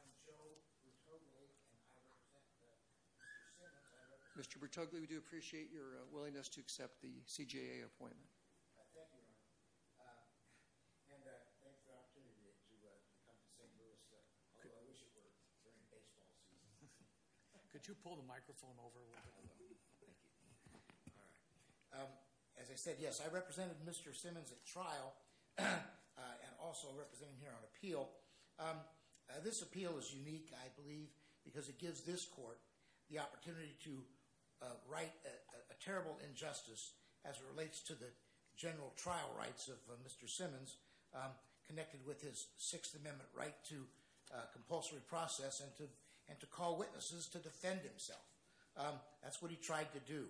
I'm Joe Bertogli, and I represent Mr. Simmons. Mr. Bertogli, we do appreciate your willingness to accept the CJA appointment. Thank you, Your Honor. And thanks for the opportunity to come to St. Louis, although I wish it were during baseball season. Could you pull the microphone over a little bit? Thank you. All right. As I said, yes, I represented Mr. Simmons at trial, and also representing him here on appeal. This appeal is unique, I believe, because it gives this court the opportunity to right a terrible injustice as it relates to the general trial rights of Mr. Simmons, connected with his Sixth Amendment right to compulsory process and to call witnesses to defend himself. That's what he tried to do.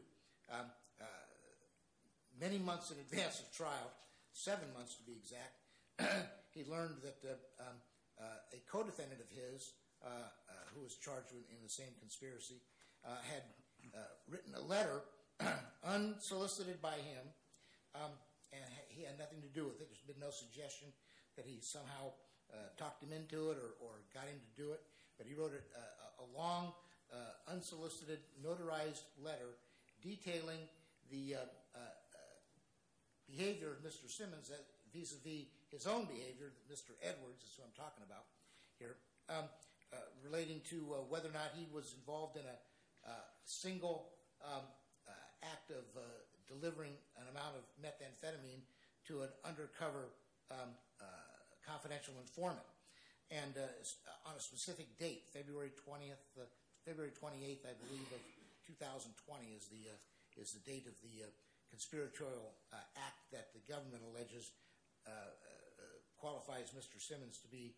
Many months in advance of trial, seven months to be exact, he learned that a co-defendant of his, who was charged in the same conspiracy, had written a letter unsolicited by him, and he had nothing to do with it. There's been no suggestion that he somehow talked him into it or got him to do it, but he wrote a long, unsolicited, notarized letter detailing the behavior of Mr. Simmons vis-à-vis his own behavior, Mr. Edwards is who I'm talking about here, relating to whether or not he was involved in a single act of delivering an amount of methamphetamine to an undercover confidential informant. And on a specific date, February 20th, February 28th, I believe, of 2020 is the date of the conspiratorial act that the government alleges qualifies Mr. Simmons to be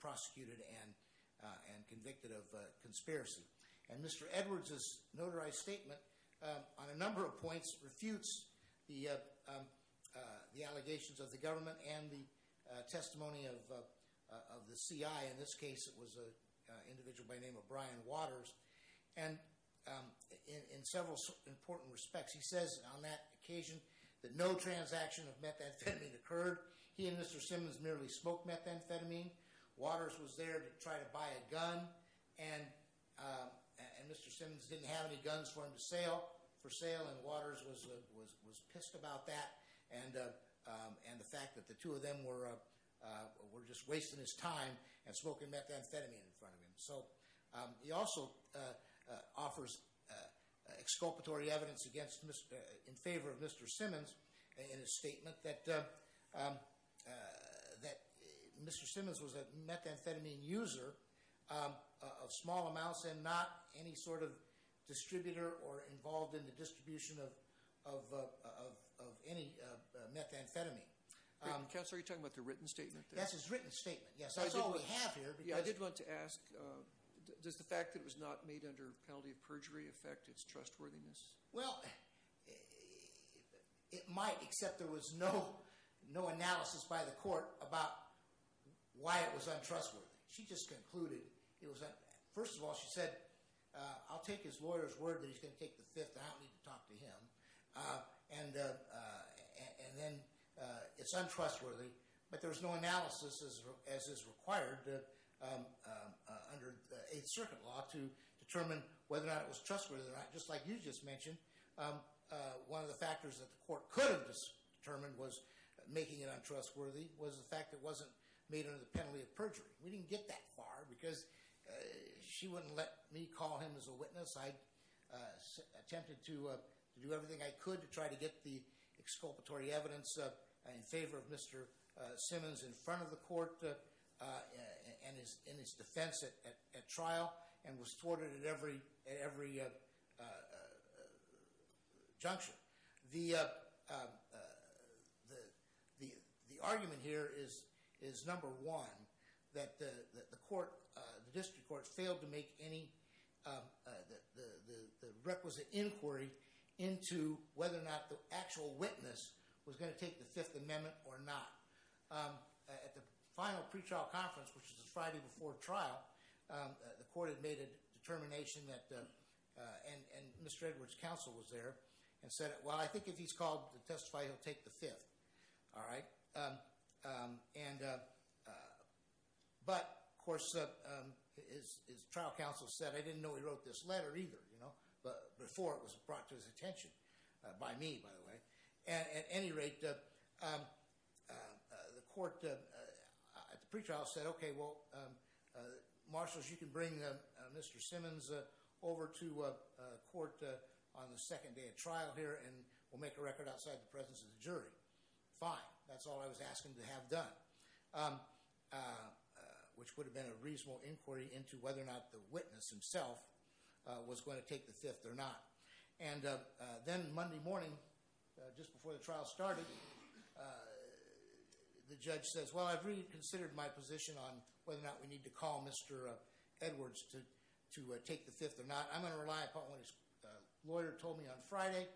prosecuted and convicted of conspiracy. And Mr. Edwards' notarized statement, on a number of points, refutes the allegations of the government and the testimony of the CI. In this case, it was an individual by the name of Brian Waters. And in several important respects, he says on that occasion that no transaction of methamphetamine occurred. He and Mr. Simmons merely smoked methamphetamine. Waters was there to try to buy a gun, and Mr. Simmons didn't have any guns for him to sale, for sale, and Waters was pissed about that and the fact that the two of them were just wasting his time and smoking methamphetamine in front of him. So, he also offers exculpatory evidence in favor of Mr. Simmons in his statement that Mr. Simmons was a methamphetamine user of small amounts and not any sort of distributor or involved in the distribution of any methamphetamine. Counselor, are you talking about the written statement there? Yes, his written statement. Yes, that's all we have here. I did want to ask, does the fact that it was not made under penalty of perjury affect its trustworthiness? Well, it might, except there was no analysis by the court about why it was untrustworthy. She just concluded, first of all she said, I'll take his lawyer's word that he's going to take the fifth and I don't need to talk to him, and then it's untrustworthy, but there was no analysis as is required under Eighth Circuit law to determine whether or not it was trustworthy or not. Just like you just mentioned, one of the factors that the court could have determined was making it untrustworthy was the fact that it wasn't made under the penalty of perjury. We didn't get that far because she wouldn't let me call him as a witness. I attempted to do everything I could to try to get the exculpatory evidence in favor of Mr. Simmons in front of the court and in his defense at trial and was thwarted at every junction. The argument here is number one that the court, the district court failed to make any requisite inquiry into whether or not the actual witness was going to take the Fifth Amendment or not. At the final pretrial conference, which was the Friday before trial, the court had made a determination that, and Mr. Edwards' counsel was there and said, well, I think if he's called to testify, he'll take the Fifth. But, of course, his trial counsel said, I didn't know he wrote this letter either before it was brought to his attention, by me, by the way. At any rate, the court at the pretrial said, okay, well, marshals, you can bring Mr. Simmons over to court on the second day of trial here and we'll make a record outside the presence of the jury. Fine. That's all I was asking to have done, which would have been a reasonable inquiry into whether or not the witness himself was going to take the Fifth or not. Then Monday morning, just before the trial started, the judge says, well, I've reconsidered my position on whether or not we need to call Mr. Edwards to take the Fifth or not. I'm going to rely upon what his lawyer told me on Friday.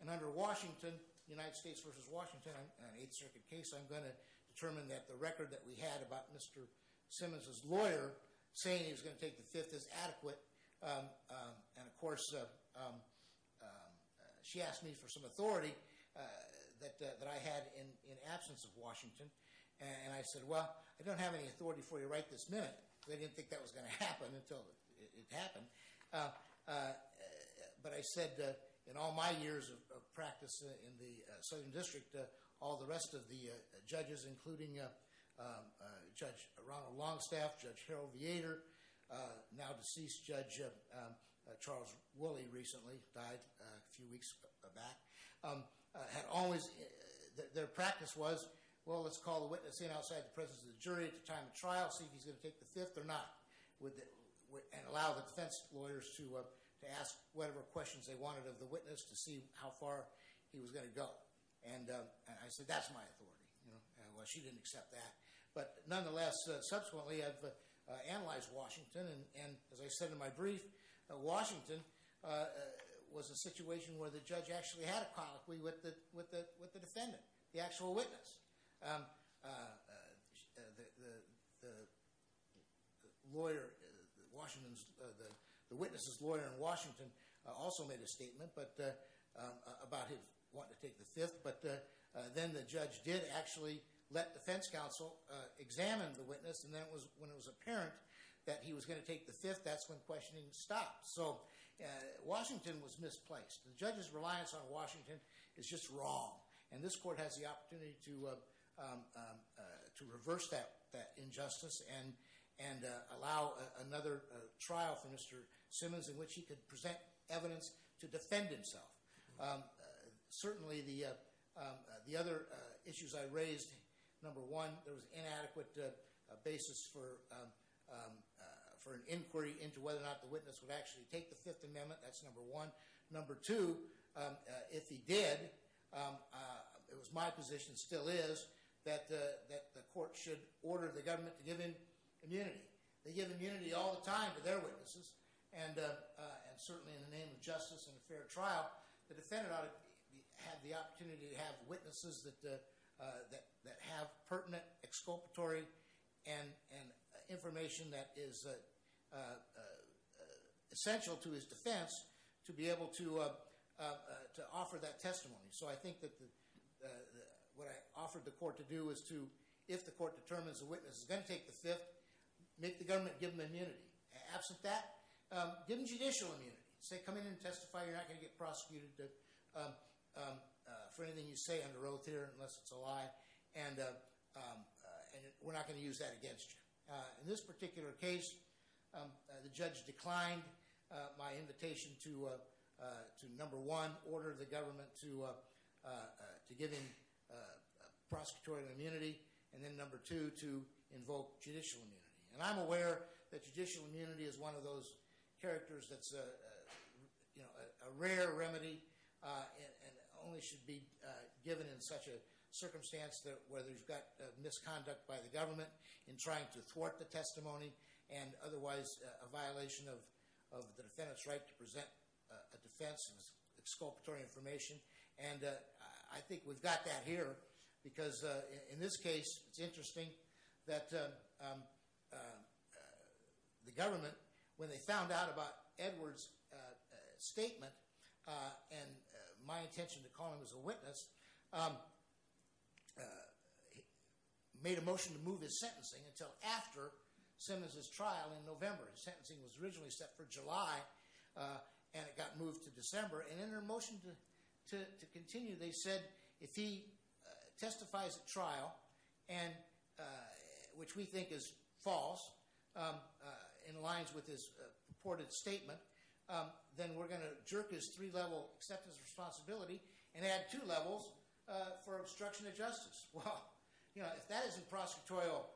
And under Washington, United States v. Washington, on an Eighth Circuit case, I'm going to determine that the record that we had about Mr. Simmons' lawyer saying he was going to take the Fifth is adequate. And, of course, she asked me for some authority that I had in absence of Washington. And I said, well, I don't have any authority for you right this minute. They didn't think that was going to happen until it happened. But I said, in all my years of practice in the Southern District, all the rest of the judges, including Judge Ronald Longstaff, Judge Harold Vietor, now deceased Judge Charles Woolley recently died a few weeks back. Their practice was, well, let's call the witness in outside the presence of the jury at the time of trial, see if he's going to take the Fifth or not, and allow the defense lawyers to ask whatever questions they wanted of the witness to see how far he was going to go. And I said, that's my authority. Well, she didn't accept that. But nonetheless, subsequently, I've analyzed Washington. And as I said in my brief, Washington was a situation where the judge actually had a colloquy with the defendant, the actual witness. The witness's lawyer in Washington also made a statement about his wanting to take the Fifth. But then the judge did actually let defense counsel examine the witness. And then when it was apparent that he was going to take the Fifth, that's when questioning stopped. So Washington was misplaced. The judge's reliance on Washington is just wrong. And this court has the opportunity to reverse that injustice and allow another trial for Mr. Simmons in which he could present evidence to defend himself. Certainly, the other issues I raised, number one, there was inadequate basis for an inquiry into whether or not the witness would actually take the Fifth Amendment. That's number one. Number two, if he did, it was my position, still is, that the court should order the government to give him immunity. They give immunity all the time to their witnesses. And certainly in the name of justice and a fair trial, the defendant ought to have the opportunity to have witnesses that have pertinent exculpatory and information that is essential to his defense to be able to offer that testimony. So I think that what I offered the court to do is to, if the court determines the witness is going to take the Fifth, make the government give him immunity. Absent that, give him judicial immunity. Say, come in and testify. You're not going to get prosecuted for anything you say under oath here, unless it's a lie. And we're not going to use that against you. In this particular case, the judge declined my invitation to, number one, order the government to give him prosecutorial immunity, and then, number two, to invoke judicial immunity. And I'm aware that judicial immunity is one of those characters that's, you know, a rare remedy and only should be given in such a circumstance where there's got misconduct by the government in trying to thwart the testimony and otherwise a violation of the defendant's right to present a defense with exculpatory information. And I think we've got that here because in this case, it's interesting that the government, when they found out about Edward's statement and my intention to call him as a witness, made a motion to move his sentencing until after Simmons' trial in November. His sentencing was originally set for July, and it got moved to December. And in their motion to continue, they said if he testifies at trial, which we think is false, in lines with his purported statement, then we're going to jerk his three-level acceptance responsibility and add two levels for obstruction of justice. Well, you know, if that isn't prosecutorial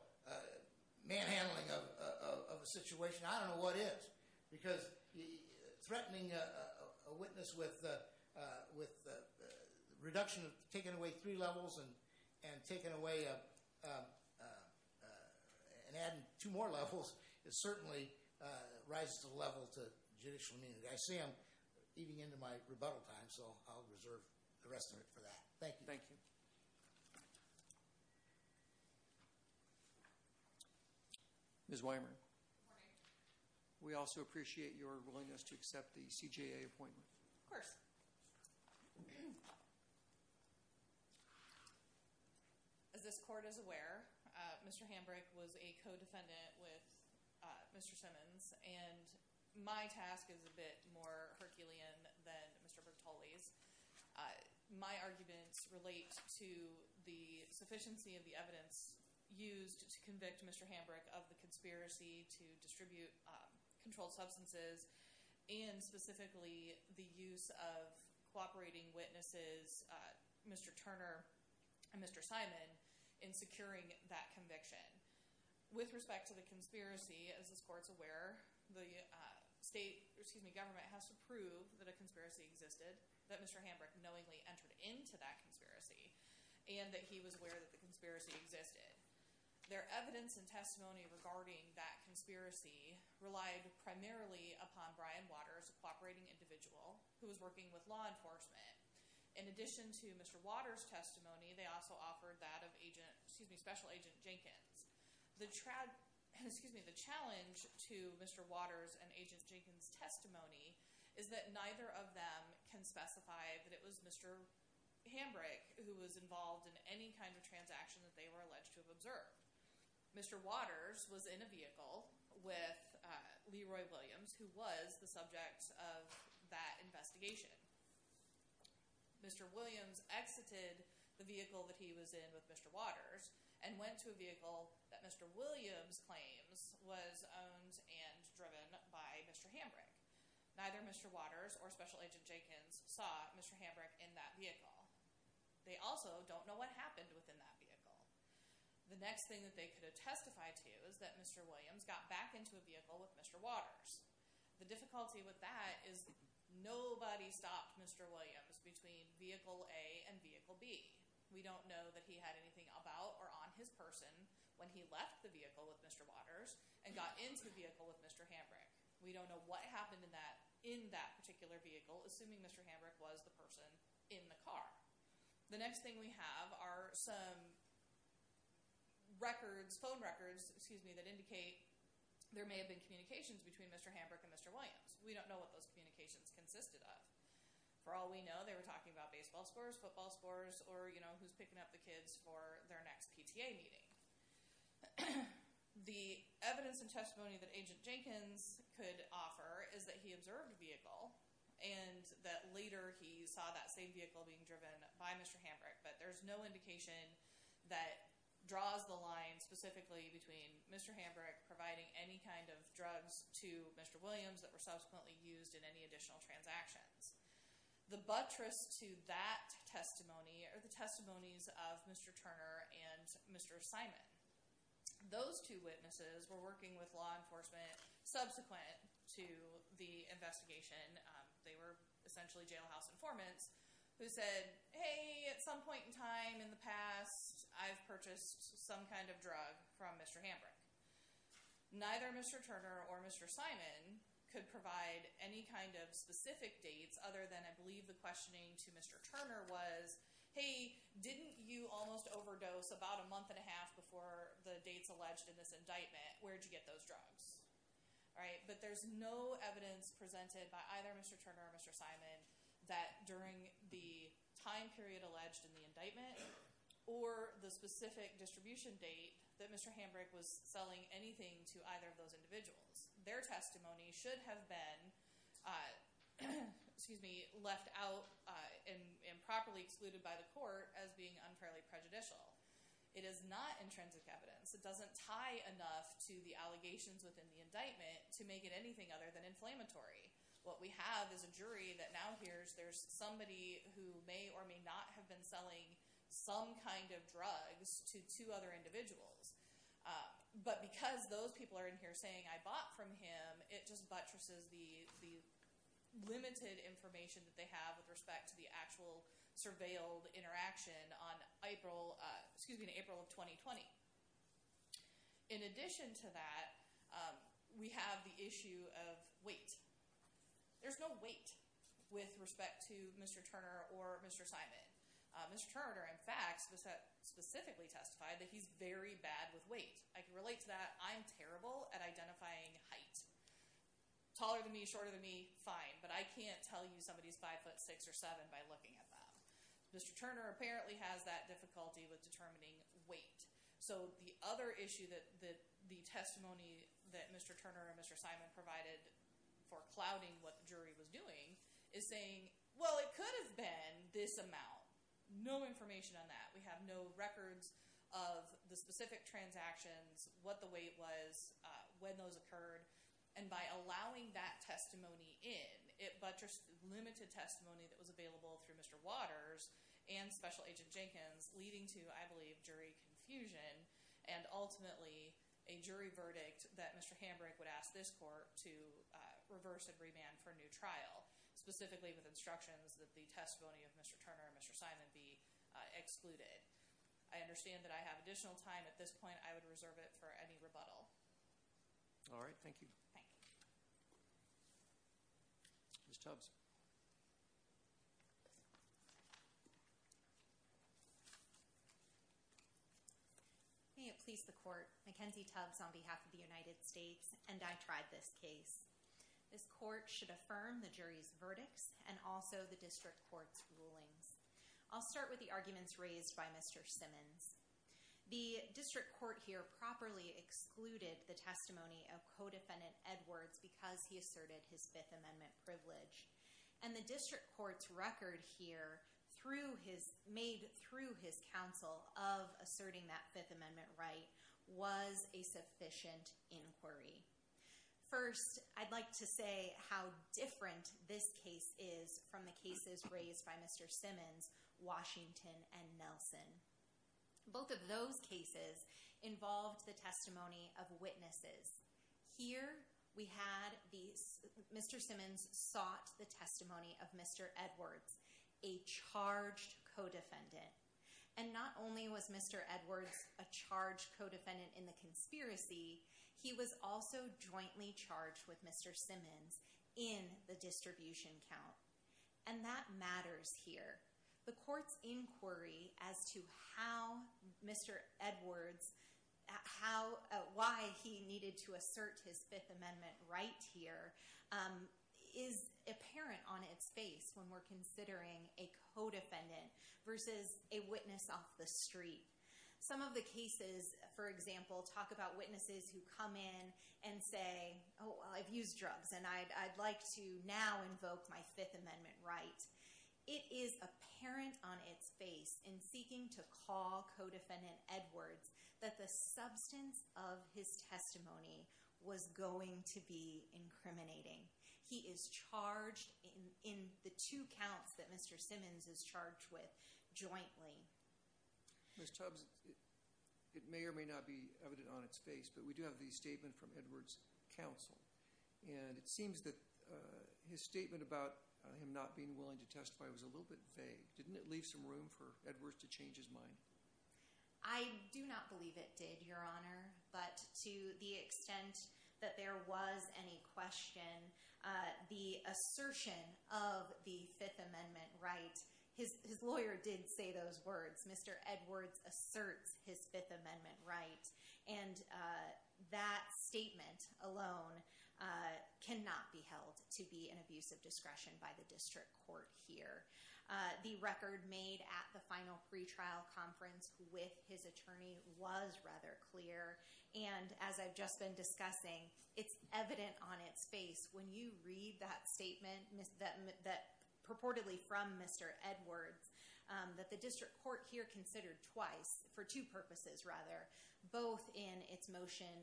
manhandling of a situation, I don't know what is. Because threatening a witness with the reduction of taking away three levels and taking away and adding two more levels, it certainly rises to the level of judicial immunity. I see I'm eating into my rebuttal time, so I'll reserve the rest of it for that. Thank you. Ms. Weimer. Good morning. We also appreciate your willingness to accept the CJA appointment. Of course. As this court is aware, Mr. Hambrick was a co-defendant with Mr. Simmons, and my task is a bit more Herculean than Mr. Bertolli's. My arguments relate to the sufficiency of the evidence used to convict Mr. Hambrick of the conspiracy to distribute controlled substances and specifically the use of cooperating witnesses, Mr. Turner and Mr. Simon, in securing that conviction. With respect to the conspiracy, as this court is aware, the state government has to prove that a conspiracy existed, that Mr. Hambrick knowingly entered into that conspiracy, and that he was aware that the conspiracy existed. Their evidence and testimony regarding that conspiracy relied primarily upon Brian Waters, a cooperating individual who was working with law enforcement. In addition to Mr. Waters' testimony, they also offered that of Special Agent Jenkins. The challenge to Mr. Waters' and Agent Jenkins' testimony is that neither of them can specify that it was Mr. Hambrick who was involved in any kind of transaction that they were alleged to have observed. Mr. Waters was in a vehicle with Leroy Williams, who was the subject of that investigation. Mr. Williams exited the vehicle that he was in with Mr. Waters and went to a vehicle that Mr. Williams claims was owned and driven by Mr. Hambrick. Neither Mr. Waters or Special Agent Jenkins saw Mr. Hambrick in that vehicle. They also don't know what happened within that vehicle. The next thing that they could have testified to is that Mr. Williams got back into a vehicle with Mr. Waters. The difficulty with that is nobody stopped Mr. Williams between vehicle A and vehicle B. We don't know that he had anything about or on his person when he left the vehicle with Mr. Waters and got into the vehicle with Mr. Hambrick. We don't know what happened in that particular vehicle, assuming Mr. Hambrick was the person in the car. The next thing we have are some phone records that indicate there may have been communications between Mr. Hambrick and Mr. Williams. We don't know what those communications consisted of. For all we know, they were talking about baseball scores, football scores, or who's picking up the kids for their next PTA meeting. The evidence and testimony that Agent Jenkins could offer is that he observed the vehicle and that later he saw that same vehicle being driven by Mr. Hambrick. But there's no indication that draws the line specifically between Mr. Hambrick providing any kind of drugs to Mr. Williams that were subsequently used in any additional transactions. The buttress to that testimony are the testimonies of Mr. Turner and Mr. Simon. Those two witnesses were working with law enforcement subsequent to the investigation. They were essentially jailhouse informants who said, hey, at some point in time in the past, I've purchased some kind of drug from Mr. Hambrick. Neither Mr. Turner or Mr. Simon could provide any kind of specific dates other than I believe the questioning to Mr. Turner was, hey, didn't you almost overdose about a month and a half before the dates alleged in this indictment? Where'd you get those drugs? But there's no evidence presented by either Mr. Turner or Mr. Simon that during the time period alleged in the indictment or the specific distribution date that Mr. Hambrick was selling anything to either of those individuals. Their testimony should have been left out and improperly excluded by the court as being unfairly prejudicial. It is not intrinsic evidence. It doesn't tie enough to the allegations within the indictment to make it anything other than inflammatory. What we have is a jury that now hears there's somebody who may or may not have been selling some kind of drugs to two other individuals. But because those people are in here saying I bought from him, it just buttresses the limited information that they have with respect to the actual surveilled interaction on April of 2020. In addition to that, we have the issue of weight. There's no weight with respect to Mr. Turner or Mr. Simon. Mr. Turner, in fact, specifically testified that he's very bad with weight. I can relate to that. I'm terrible at identifying height. Taller than me, shorter than me, fine. But I can't tell you somebody's five foot six or seven by looking at them. Mr. Turner apparently has that difficulty with determining weight. So the other issue that the testimony that Mr. Turner and Mr. Simon provided for clouding what the jury was doing is saying, well, it could have been this amount. No information on that. We have no records of the specific transactions, what the weight was, when those occurred. And by allowing that testimony in, it buttressed limited testimony that was available through Mr. Waters and Special Agent Jenkins, leading to, I believe, jury confusion and ultimately a jury verdict that Mr. Hambrick would ask this court to reverse and remand for a new trial, specifically with instructions that the testimony of Mr. Turner and Mr. Simon be excluded. I understand that I have additional time at this point. I would reserve it for any rebuttal. All right. Thank you. Thank you. Ms. Tubbs. May it please the court, Mackenzie Tubbs on behalf of the United States, and I tried this case. This court should affirm the jury's verdicts and also the district court's rulings. I'll start with the arguments raised by Mr. Simmons. The district court here properly excluded the testimony of co-defendant Edwards because he asserted his Fifth Amendment privilege. And the district court's record here made through his counsel of asserting that Fifth Amendment right was a sufficient inquiry. First, I'd like to say how different this case is from the cases raised by Mr. Simmons, Washington, and Nelson. Both of those cases involved the testimony of witnesses. Here we had these Mr. Simmons sought the testimony of Mr. Edwards, a charged co-defendant. And not only was Mr. Edwards a charged co-defendant in the conspiracy, he was also jointly charged with Mr. Simmons in the distribution count. And that matters here. The court's inquiry as to how Mr. Edwards, why he needed to assert his Fifth Amendment right here is apparent on its face when we're considering a co-defendant versus a witness off the street. Some of the cases, for example, talk about witnesses who come in and say, oh, well, I've used drugs and I'd like to now invoke my Fifth Amendment right. It is apparent on its face in seeking to call co-defendant Edwards that the substance of his testimony was going to be incriminating. He is charged in the two counts that Mr. Simmons is charged with jointly. Ms. Tubbs, it may or may not be evident on its face, but we do have the statement from Edwards' counsel. And it seems that his statement about him not being willing to testify was a little bit vague. Didn't it leave some room for Edwards to change his mind? I do not believe it did, Your Honor. But to the extent that there was any question, the assertion of the Fifth Amendment right, his lawyer did say those words, Mr. Edwards asserts his Fifth Amendment right. And that statement alone cannot be held to be an abuse of discretion by the district court here. The record made at the final pretrial conference with his attorney was rather clear. And as I've just been discussing, it's evident on its face when you read that statement purportedly from Mr. Edwards that the district court here considered twice, for two purposes rather, both in its motion,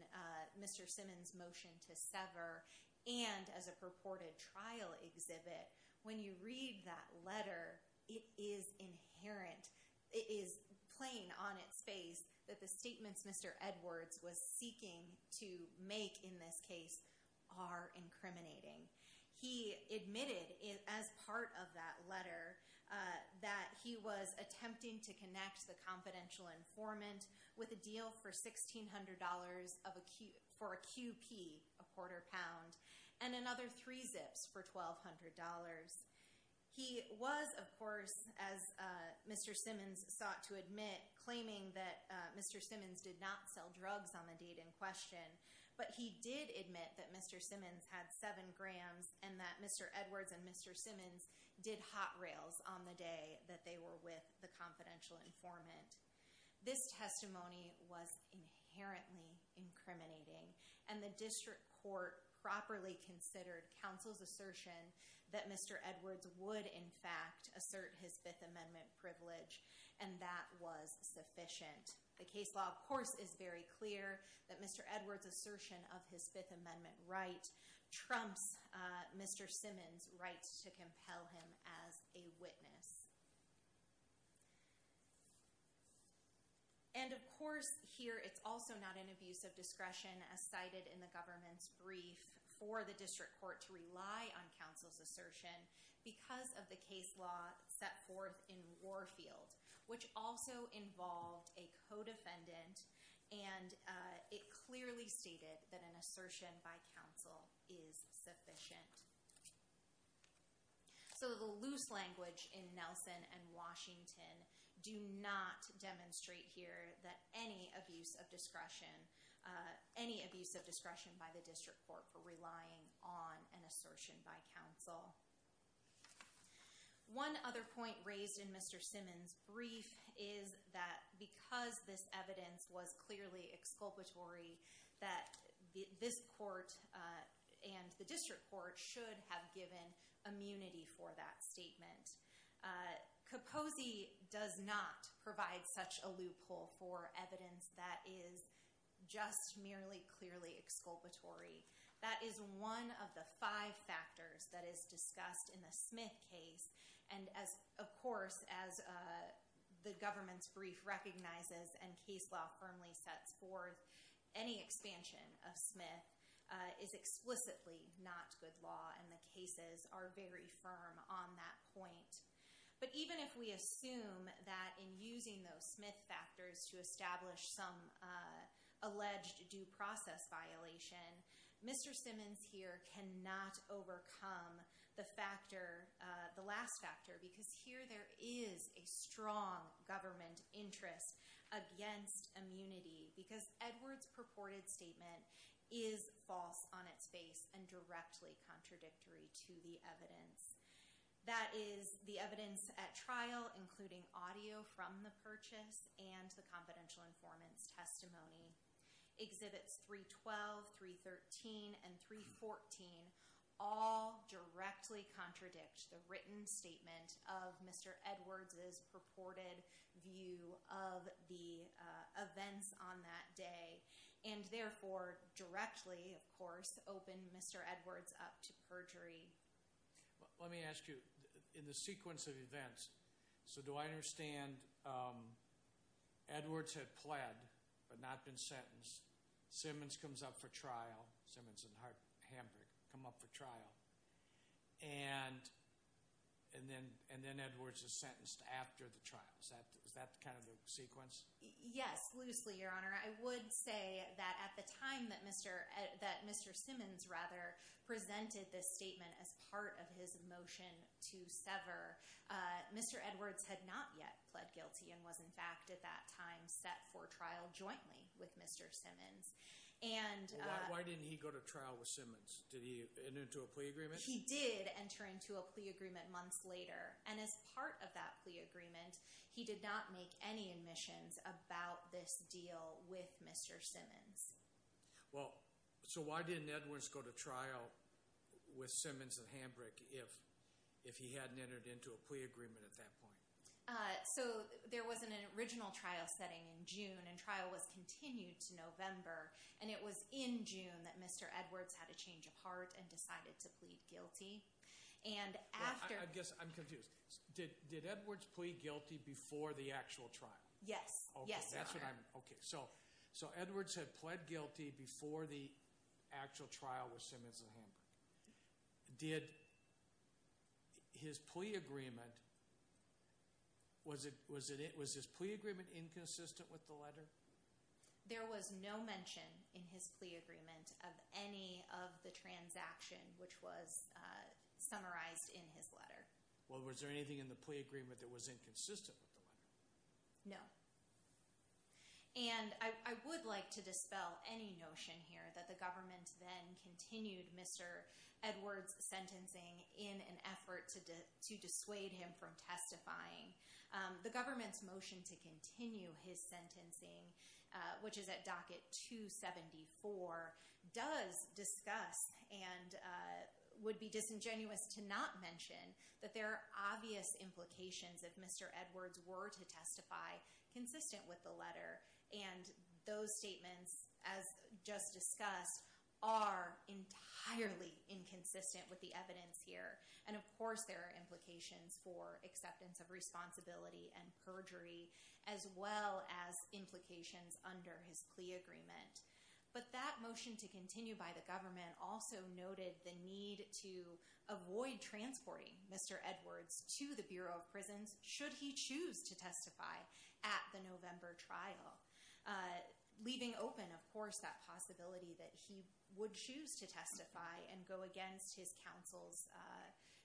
Mr. Simmons' motion to sever, and as a purported trial exhibit. When you read that letter, it is inherent, it is plain on its face that the statements Mr. Edwards was seeking to make in this case are incriminating. He admitted as part of that letter that he was attempting to connect the confidential informant with a deal for $1,600 for a QP, a quarter pound, and another three zips for $1,200. He was, of course, as Mr. Simmons sought to admit, claiming that Mr. Simmons did not sell drugs on the date in question, but he did admit that Mr. Simmons had seven grams and that Mr. Edwards and Mr. Simmons did hot rails on the day that they were with the confidential informant. This testimony was inherently incriminating, and the district court properly considered counsel's assertion that Mr. Edwards would, in fact, assert his Fifth Amendment privilege, and that was sufficient. The case law, of course, is very clear that Mr. Edwards' assertion of his Fifth Amendment right trumps Mr. Simmons' rights to compel him as a witness. And, of course, here it's also not an abuse of discretion as cited in the government's brief for the district court to rely on counsel's assertion because of the case law set forth in Warfield, which also involved a co-defendant, and it clearly stated that an assertion by counsel is sufficient. So the loose language in Nelson and Washington do not demonstrate here that any abuse of discretion, any abuse of discretion by the district court for relying on an assertion by counsel. One other point raised in Mr. Simmons' brief is that because this evidence was clearly exculpatory, that this court and the district court should have given immunity for that statement. Kaposi does not provide such a loophole for evidence that is just merely clearly exculpatory. That is one of the five factors that is discussed in the Smith case, and as, of course, as the government's brief recognizes and case law firmly sets forth, any expansion of Smith is explicitly not good law, and the cases are very firm on that point. But even if we assume that in using those Smith factors to establish some alleged due process violation, Mr. Simmons here cannot overcome the factor, the last factor, because here there is a strong government interest against immunity because Edwards' purported statement is false on its face and directly contradictory to the evidence. That is the evidence at trial, including audio from the purchase and the confidential informant's testimony. Exhibits 312, 313, and 314 all directly contradict the written statement of Mr. Edwards' purported view of the events on that day, and therefore directly, of course, open Mr. Edwards up to perjury. Let me ask you, in the sequence of events, so do I understand Edwards had pled but not been sentenced, Simmons comes up for trial, Simmons and Hamburg come up for trial, and then Edwards is sentenced after the trial. Is that kind of the sequence? Yes, loosely, Your Honor. I would say that at the time that Mr. Simmons, rather, presented this statement as part of his motion to sever, Mr. Edwards had not yet pled guilty and was, in fact, at that time set for trial jointly with Mr. Simmons. Why didn't he go to trial with Simmons? Did he enter into a plea agreement? And as part of that plea agreement, he did not make any admissions about this deal with Mr. Simmons. Well, so why didn't Edwards go to trial with Simmons and Hamburg if he hadn't entered into a plea agreement at that point? So there was an original trial setting in June, and trial was continued to November, and it was in June that Mr. Edwards had a change of heart and decided to plead guilty. I guess I'm confused. Did Edwards plead guilty before the actual trial? Yes. Yes, Your Honor. Okay, so Edwards had pled guilty before the actual trial with Simmons and Hamburg. Did his plea agreement – was his plea agreement inconsistent with the letter? There was no mention in his plea agreement of any of the transaction which was summarized in his letter. Well, was there anything in the plea agreement that was inconsistent with the letter? No. And I would like to dispel any notion here that the government then continued Mr. Edwards' sentencing in an effort to dissuade him from testifying. The government's motion to continue his sentencing, which is at docket 274, does discuss and would be disingenuous to not mention that there are obvious implications if Mr. Edwards were to testify consistent with the letter. And those statements, as just discussed, are entirely inconsistent with the evidence here. And, of course, there are implications for acceptance of responsibility and perjury as well as implications under his plea agreement. But that motion to continue by the government also noted the need to avoid transporting Mr. Edwards to the Bureau of Prisons should he choose to testify at the November trial, leaving open, of course, that possibility that he would choose to testify and go against his counsel's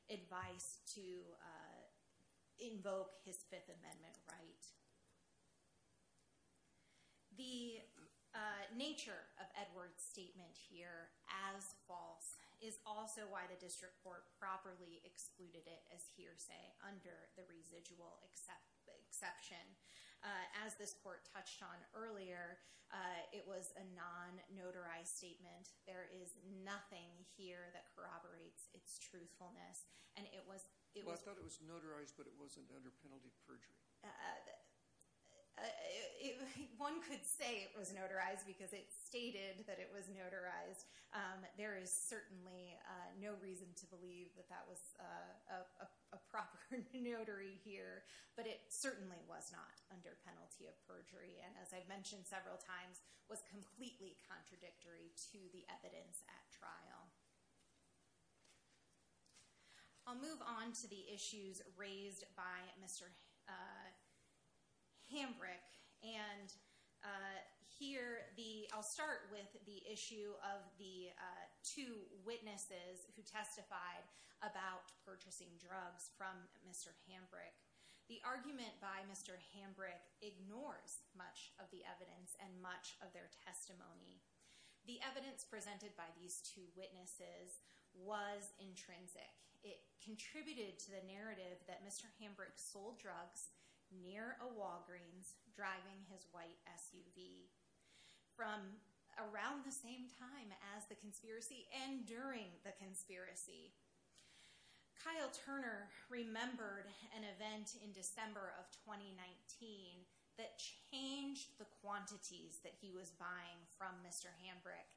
advice to invoke his Fifth Amendment right. The nature of Edwards' statement here, as false, is also why the district court properly excluded it as hearsay under the residual exception. As this court touched on earlier, it was a non-notarized statement. There is nothing here that corroborates its truthfulness. And it was — Well, I thought it was notarized, but it wasn't under penalty of perjury. One could say it was notarized because it stated that it was notarized. There is certainly no reason to believe that that was a proper notary here. But it certainly was not under penalty of perjury and, as I've mentioned several times, was completely contradictory to the evidence at trial. I'll move on to the issues raised by Mr. Hambrick. And here, I'll start with the issue of the two witnesses who testified about purchasing drugs from Mr. Hambrick. The argument by Mr. Hambrick ignores much of the evidence and much of their testimony. The evidence presented by these two witnesses was intrinsic. It contributed to the narrative that Mr. Hambrick sold drugs near a Walgreens driving his white SUV from around the same time as the conspiracy and during the conspiracy. Kyle Turner remembered an event in December of 2019 that changed the quantities that he was buying from Mr. Hambrick.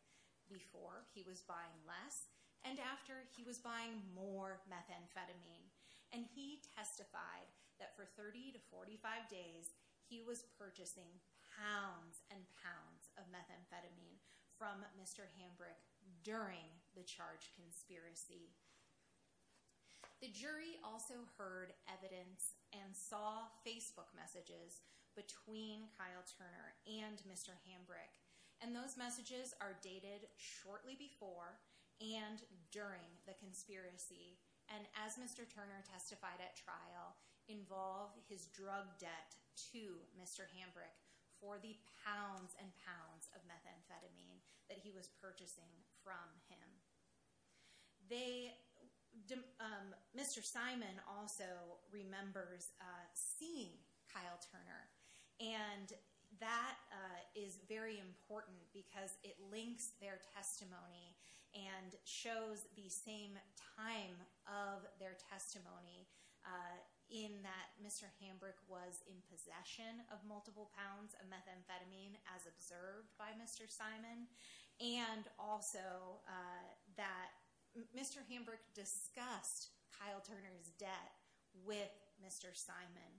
Before, he was buying less, and after, he was buying more methamphetamine. And he testified that for 30 to 45 days, he was purchasing pounds and pounds of methamphetamine from Mr. Hambrick during the charged conspiracy. The jury also heard evidence and saw Facebook messages between Kyle Turner and Mr. Hambrick. And those messages are dated shortly before and during the conspiracy. And as Mr. Turner testified at trial, involve his drug debt to Mr. Hambrick for the pounds and pounds of methamphetamine that he was purchasing from him. Mr. Simon also remembers seeing Kyle Turner. And that is very important because it links their testimony and shows the same time of their testimony in that Mr. Hambrick was in possession of multiple pounds of methamphetamine as observed by Mr. Simon. And also that Mr. Hambrick discussed Kyle Turner's debt with Mr. Simon.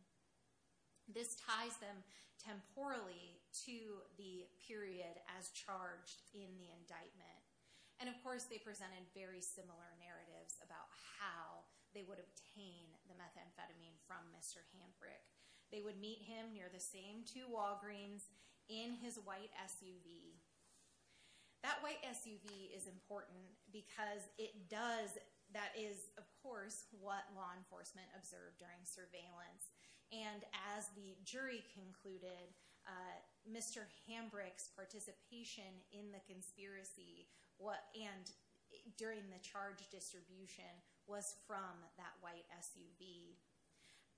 This ties them temporally to the period as charged in the indictment. And of course, they presented very similar narratives about how they would obtain the methamphetamine from Mr. Hambrick. They would meet him near the same two Walgreens in his white SUV. That white SUV is important because it does, that is of course, what law enforcement observed during surveillance. And as the jury concluded, Mr. Hambrick's participation in the conspiracy and during the charge distribution was from that white SUV.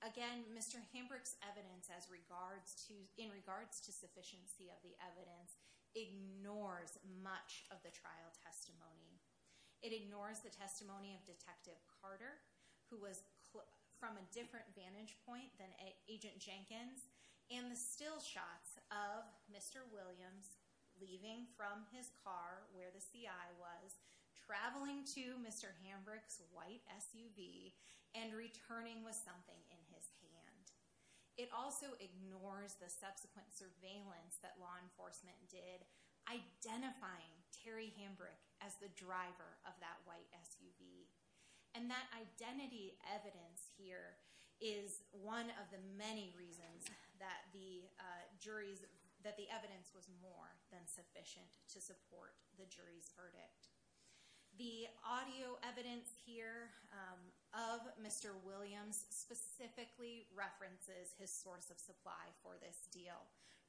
Again, Mr. Hambrick's evidence as regards to, in regards to sufficiency of the evidence ignores much of the trial testimony. It ignores the testimony of Detective Carter, who was from a different vantage point than Agent Jenkins. And the still shots of Mr. Williams leaving from his car where the CI was traveling to Mr. Hambrick's white SUV and returning with something in his hand. It also ignores the subsequent surveillance that law enforcement did, identifying Terry Hambrick as the driver of that white SUV. And that identity evidence here is one of the many reasons that the jury's, that the evidence was more than sufficient to support the jury's verdict. The audio evidence here of Mr. Williams specifically references his source of supply for this deal.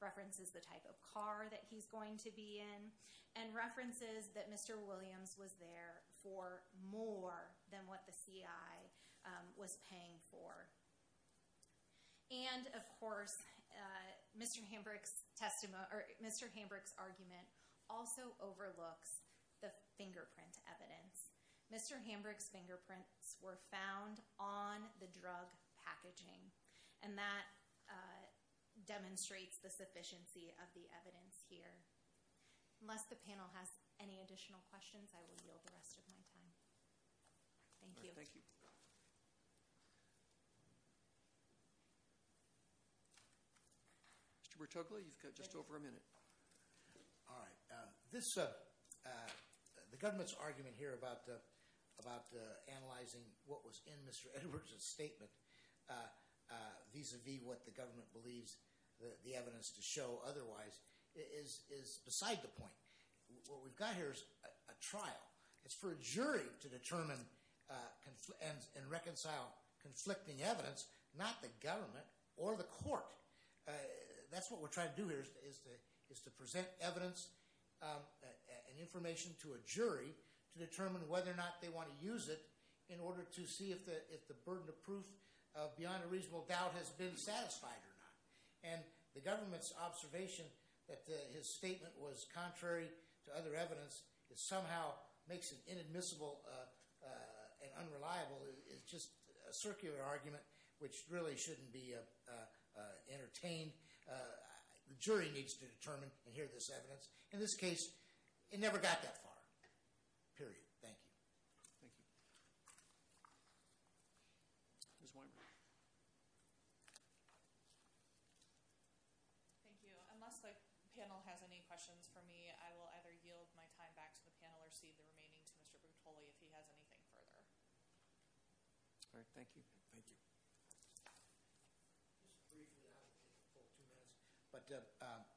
References the type of car that he's going to be in and references that Mr. Williams was there for more than what the CI was paying for. And of course, Mr. Hambrick's argument also overlooks the fingerprint evidence. Mr. Hambrick's fingerprints were found on the drug packaging and that demonstrates the sufficiency of the evidence here. Unless the panel has any additional questions, I will yield the rest of my time. Thank you. Thank you. Mr. Bertogli, you've got just over a minute. All right. This, the government's argument here about analyzing what was in Mr. Edwards' statement vis-à-vis what the government believes the evidence to show otherwise is beside the point. What we've got here is a trial. It's for a jury to determine and reconcile conflicting evidence, not the government or the court. That's what we're trying to do here is to present evidence and information to a jury to determine whether or not they want to use it in order to see if the burden of proof beyond a reasonable doubt has been satisfied or not. And the government's observation that his statement was contrary to other evidence that somehow makes it inadmissible and unreliable is just a circular argument which really shouldn't be entertained. The jury needs to determine and hear this evidence. In this case, it never got that far. Period. Thank you. Thank you. Ms. Weinberg. Thank you. Unless the panel has any questions for me, I will either yield my time back to the panel or cede the remaining to Mr. Bertogli if he has anything further. All right. Thank you. Thank you. But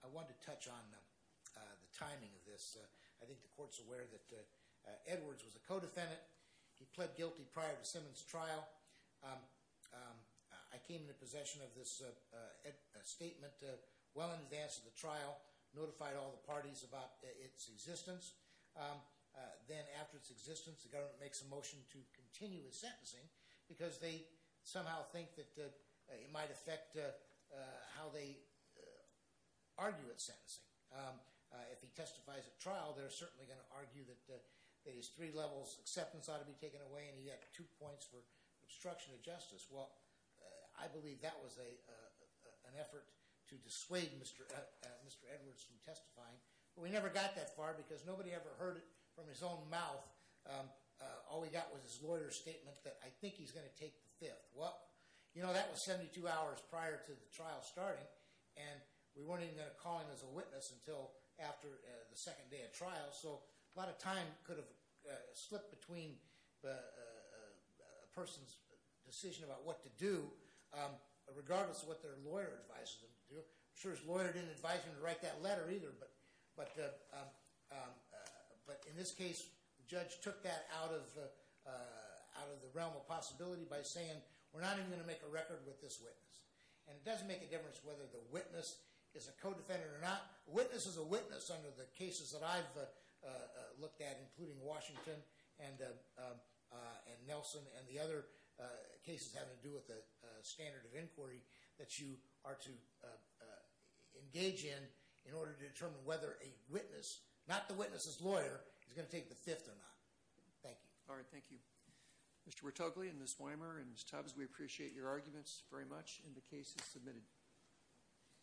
I wanted to touch on the timing of this. I think the court's aware that Edwards was a co-defendant. He pled guilty prior to Simmons' trial. I came into possession of this statement well in advance of the trial, notified all the parties about its existence. Then after its existence, the government makes a motion to continue his sentencing because they somehow think that it might affect how they argue at sentencing. If he testifies at trial, they're certainly going to argue that his three levels acceptance ought to be taken away and he had two points for obstruction of justice. Well, I believe that was an effort to dissuade Mr. Edwards from testifying. But we never got that far because nobody ever heard it from his own mouth. All he got was his lawyer's statement that, I think he's going to take the fifth. Well, you know, that was 72 hours prior to the trial starting and we weren't even going to call him as a witness until after the second day of trial. So a lot of time could have slipped between a person's decision about what to do regardless of what their lawyer advised them to do. I'm sure his lawyer didn't advise him to write that letter either. But in this case, the judge took that out of the realm of possibility by saying, we're not even going to make a record with this witness. And it doesn't make a difference whether the witness is a co-defendant or not. A witness is a witness under the cases that I've looked at, including Washington and Nelson, and the other cases having to do with the standard of inquiry that you are to engage in, in order to determine whether a witness, not the witness's lawyer, is going to take the fifth or not. Thank you. All right, thank you. Mr. Wertogli and Ms. Weimer and Ms. Tubbs, we appreciate your arguments very much and the case is submitted.